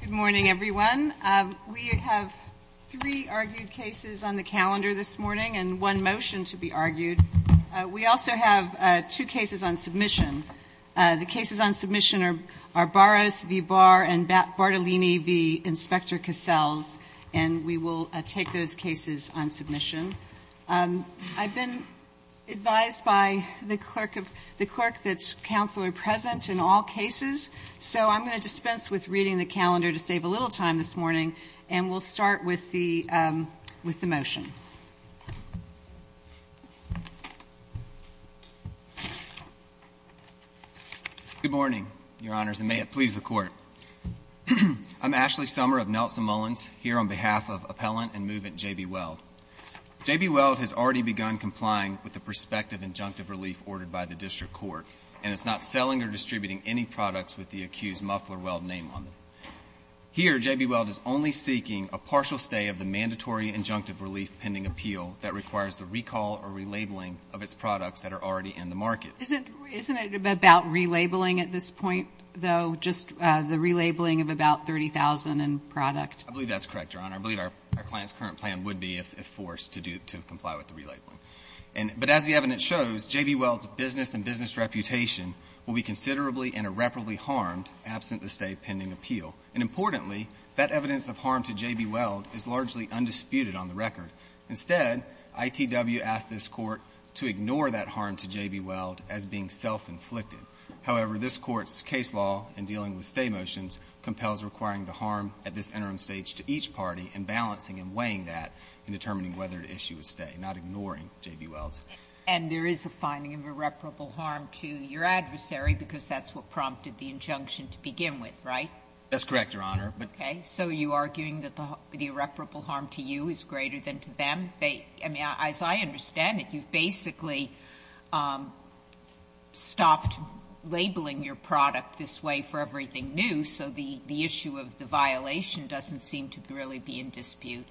Good morning, everyone. We have three argued cases on the calendar this morning and one motion to be argued. We also have two cases on submission. The cases on submission are Barros v. Barr and Bartolini v. Inspector Cassells, and we will take those cases on submission. I've been advised by the clerk that counsel are present in all cases, so I'm going to dispense with reading the calendar to save a little time this morning. And we'll start with the motion. Good morning, Your Honors, and may it please the Court. I'm Ashley Sommer of Nelson Mullins here on behalf of Appellant and Movement J.B. Weld. J.B. Weld has already begun complying with the prospective injunctive relief ordered by the district court, and it's not selling or distributing any products with the accused Muffler-Weld name on them. Here, J.B. Weld is only seeking a partial stay of the mandatory injunctive relief pending appeal that requires the recall or relabeling of its products that are already in the market. Isn't it about relabeling at this point, though, just the relabeling of about 30,000 in product? I believe that's correct, Your Honor. I believe our client's current plan would be if forced to comply with the relabeling. But as the evidence shows, J.B. Weld's business and business reputation will be considerably and irreparably harmed absent the stay pending appeal. And importantly, that evidence of harm to J.B. Weld is largely undisputed on the record. Instead, ITW asks this Court to ignore that harm to J.B. Weld as being self-inflicted. However, this Court's case law in dealing with stay motions compels requiring the harm at this interim stage to each party and balancing and weighing that in determining whether to issue a stay, not ignoring J.B. Weld's. And there is a finding of irreparable harm to your adversary because that's what prompted the injunction to begin with, right? That's correct, Your Honor. Okay. So you're arguing that the irreparable harm to you is greater than to them? They — I mean, as I understand it, you've basically stopped labeling your product this way for everything new, so the issue of the violation doesn't seem to really be in dispute.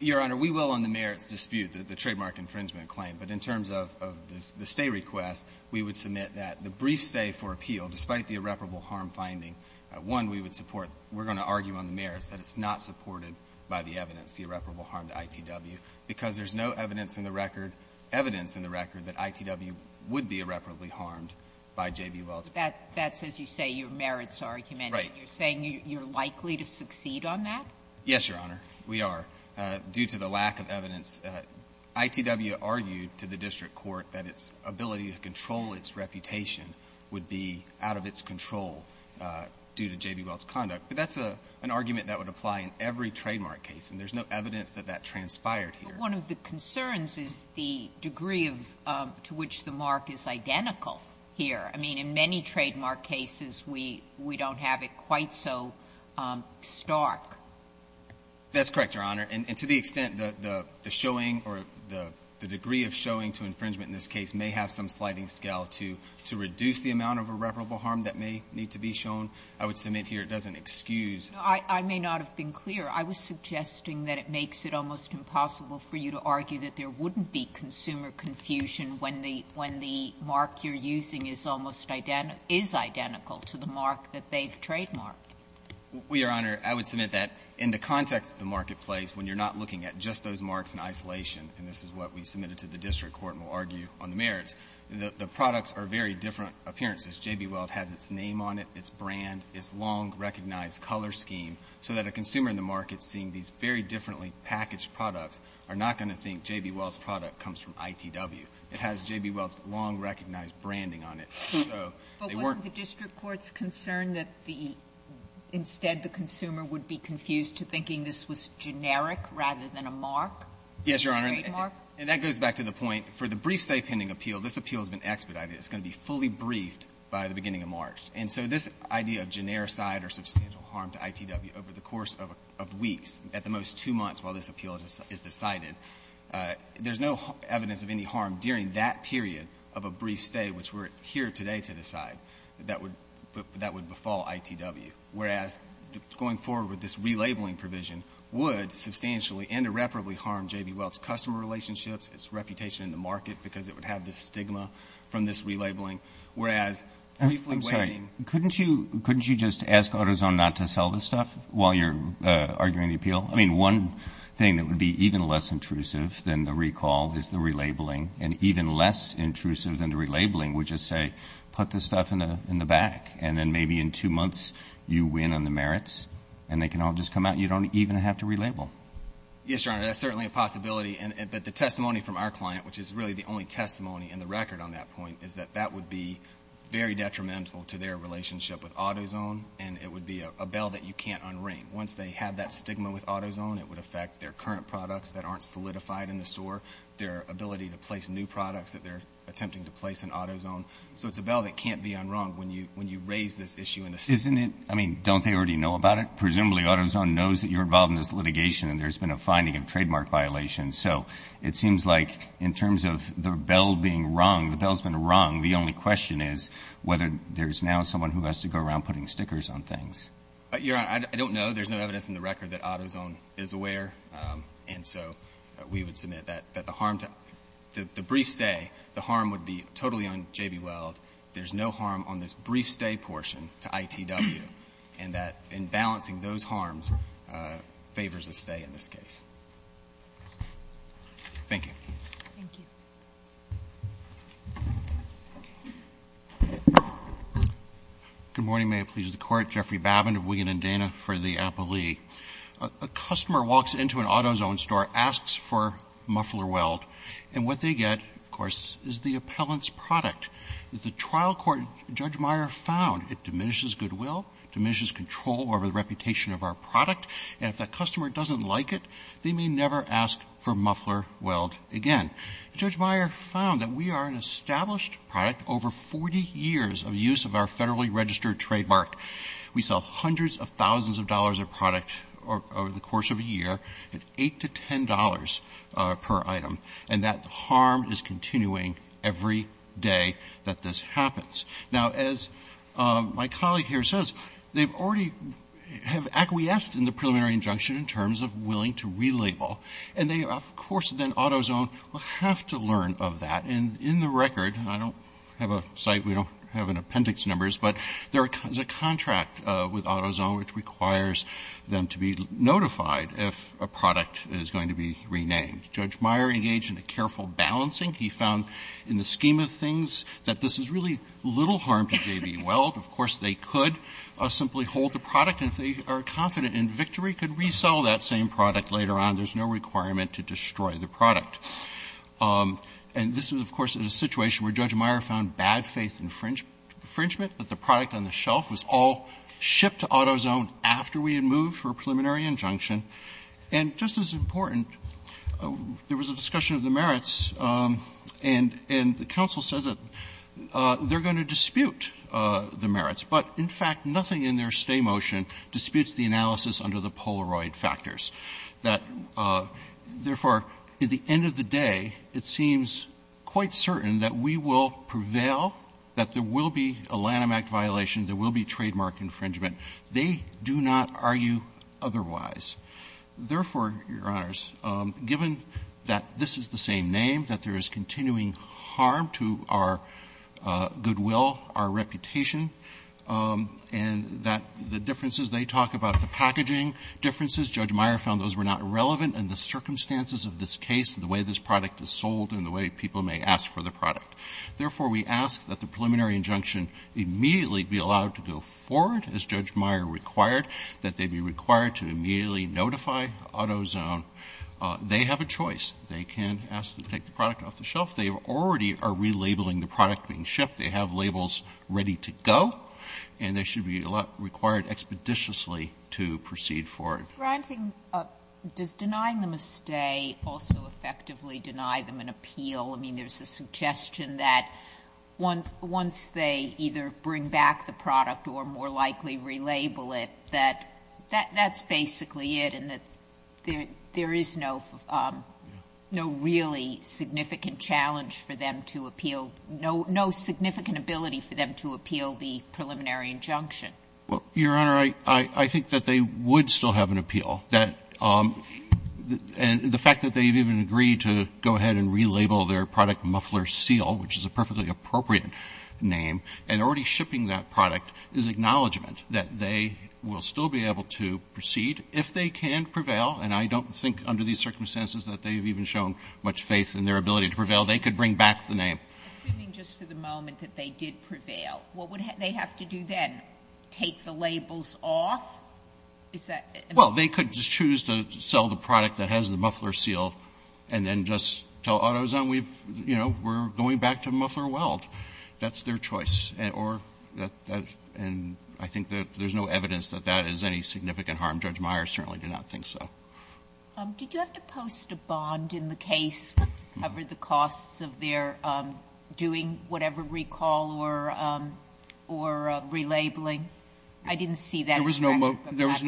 Your Honor, we will on the merits dispute the trademark infringement claim. But in terms of the stay request, we would submit that the brief stay for appeal, despite the irreparable harm finding, one, we would support. We're going to argue on the merits that it's not supported by the evidence, the irreparable harm to ITW, because there's no evidence in the record, evidence in the record, that ITW would be irreparably harmed by J.B. Weld's. That's, as you say, your merits argument. Right. You're saying you're likely to succeed on that? Yes, Your Honor, we are, due to the lack of evidence. ITW argued to the district court that its ability to control its reputation would be out of its control due to J.B. Weld's conduct. But that's an argument that would apply in every trademark case. And there's no evidence that that transpired here. But one of the concerns is the degree of to which the mark is identical here. I mean, in many trademark cases, we don't have it quite so stark. That's correct, Your Honor. And to the extent that the showing or the degree of showing to infringement in this case may have some sliding scale to reduce the amount of irreparable harm that may need to be shown, I would submit here it doesn't excuse. I may not have been clear. I was suggesting that it makes it almost impossible for you to argue that there wouldn't be consumer confusion when the mark you're using is almost identical to the mark that they've trademarked. Well, Your Honor, I would submit that in the context of the marketplace, when you're not looking at just those marks in isolation, and this is what we submitted to the district court and will argue on the merits, the products are very different appearances. J.B. Weld has its name on it, its brand, its long recognized color scheme, so that a consumer in the market seeing these very differently packaged products are not going to think J.B. Weld's product comes from ITW. It has J.B. Weld's long recognized branding on it, so they weren't going to be confused. But wasn't the district court's concern that the instead the consumer would be confused to thinking this was generic rather than a mark? Yes, Your Honor, and that goes back to the point, for the brief-stay pending appeal, this appeal has been expedited. It's going to be fully briefed by the beginning of March. And so this idea of generic side or substantial harm to ITW over the course of weeks, at the most two months while this appeal is decided, there's no evidence of any harm during that period of a brief stay, which we're here today to decide, that would befall ITW. Whereas, going forward with this relabeling provision would substantially and irreparably harm J.B. Weld's customer relationships, its reputation in the market, because it would have this stigma from this relabeling. Couldn't you just ask AutoZone not to sell this stuff while you're arguing the appeal? I mean, one thing that would be even less intrusive than the recall is the relabeling. And even less intrusive than the relabeling would just say, put this stuff in the back. And then maybe in two months, you win on the merits, and they can all just come out. You don't even have to relabel. Yes, Your Honor, that's certainly a possibility. But the testimony from our client, which is really the only testimony in the record on that point, is that that would be very detrimental to their relationship with AutoZone, and it would be a bell that you can't unring. Once they have that stigma with AutoZone, it would affect their current products that aren't solidified in the store, their ability to place new products that they're attempting to place in AutoZone. So it's a bell that can't be unrung when you raise this issue in the state. Isn't it? I mean, don't they already know about it? Presumably, AutoZone knows that you're involved in this litigation, and there's been a finding of trademark violations. So it seems like in terms of the bell being rung, the bell's been rung. The only question is whether there's now someone who has to go around putting stickers on things. Your Honor, I don't know. There's no evidence in the record that AutoZone is aware. And so we would submit that the harm to the brief stay, the harm would be totally on J.B. Weld. There's no harm on this brief stay portion to ITW, and that in balancing those harms favors a stay in this case. Thank you. Good morning. May it please the Court. Jeffrey Babin of Wiggin and Dana for the Appellee. A customer walks into an AutoZone store, asks for muffler weld, and what they get, of course, is the appellant's product. As the trial court, Judge Meyer, found, it diminishes goodwill, diminishes control over the reputation of our product, and if that customer doesn't like it, they may never ask for muffler weld again. Judge Meyer found that we are an established product over 40 years of use of our Federally Registered Trademark. We sell hundreds of thousands of dollars of product over the course of a year at $8 to $10 per item, and that harm is continuing every day that this happens. Now, as my colleague here says, they've already have acquiesced in the preliminary injunction in terms of willing to relabel, and they, of course, then AutoZone will have to learn of that, and in the record, I don't have a site, we don't have an appendix numbers, but there is a contract with AutoZone which requires them to be notified if a product is going to be renamed. Judge Meyer engaged in a careful balancing. He found in the scheme of things that this is really little harm to J.B. Weld. Of course, they could simply hold the product, and if they are confident in victory, we could resell that same product later on. There's no requirement to destroy the product. And this is, of course, a situation where Judge Meyer found bad faith infringement, that the product on the shelf was all shipped to AutoZone after we had moved for a preliminary injunction. And just as important, there was a discussion of the merits, and the counsel says that they're going to dispute the merits, but in fact, nothing in their stay motion disputes the analysis under the Polaroid factors. That, therefore, at the end of the day, it seems quite certain that we will prevail, that there will be a Lanham Act violation, there will be trademark infringement. They do not argue otherwise. Therefore, Your Honors, given that this is the same name, that there is continuing harm to our goodwill, our reputation, and that the differences they talk about, the packaging differences, Judge Meyer found those were not relevant in the circumstances of this case, the way this product is sold, and the way people may ask for the product. Therefore, we ask that the preliminary injunction immediately be allowed to go forward as Judge Meyer required, that they be required to immediately notify AutoZone. They have a choice. They can ask to take the product off the shelf. They already are relabeling the product being shipped. They have labels ready to go, and they should be required expeditiously to proceed forward. Sotomayor, does denying them a stay also effectively deny them an appeal? I mean, there's a suggestion that once they either bring back the product or more That's basically it, and there is no really significant challenge for them to appeal no significant ability for them to appeal the preliminary injunction. Well, Your Honor, I think that they would still have an appeal. The fact that they've even agreed to go ahead and relabel their product Muffler Seal, which is a perfectly appropriate name, and already shipping that product is acknowledgment that they will still be able to proceed if they can prevail. And I don't think under these circumstances that they've even shown much faith in their ability to prevail. They could bring back the name. Assuming just for the moment that they did prevail, what would they have to do then? Take the labels off? Is that? Well, they could just choose to sell the product that has the Muffler Seal and then just tell AutoZone we've, you know, we're going back to Muffler Weld. That's their choice. And I think that there's no evidence that that is any significant harm. Judge Meyers certainly did not think so. Did you have to post a bond in the case that covered the costs of their doing whatever recall or relabeling? I didn't see that. There was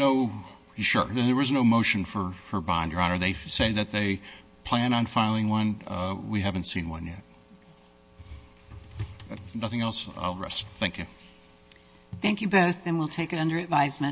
no motion for bond, Your Honor. They say that they plan on filing one. We haven't seen one yet. If nothing else, I'll rest. Thank you. Thank you both. And we'll take it under advisement.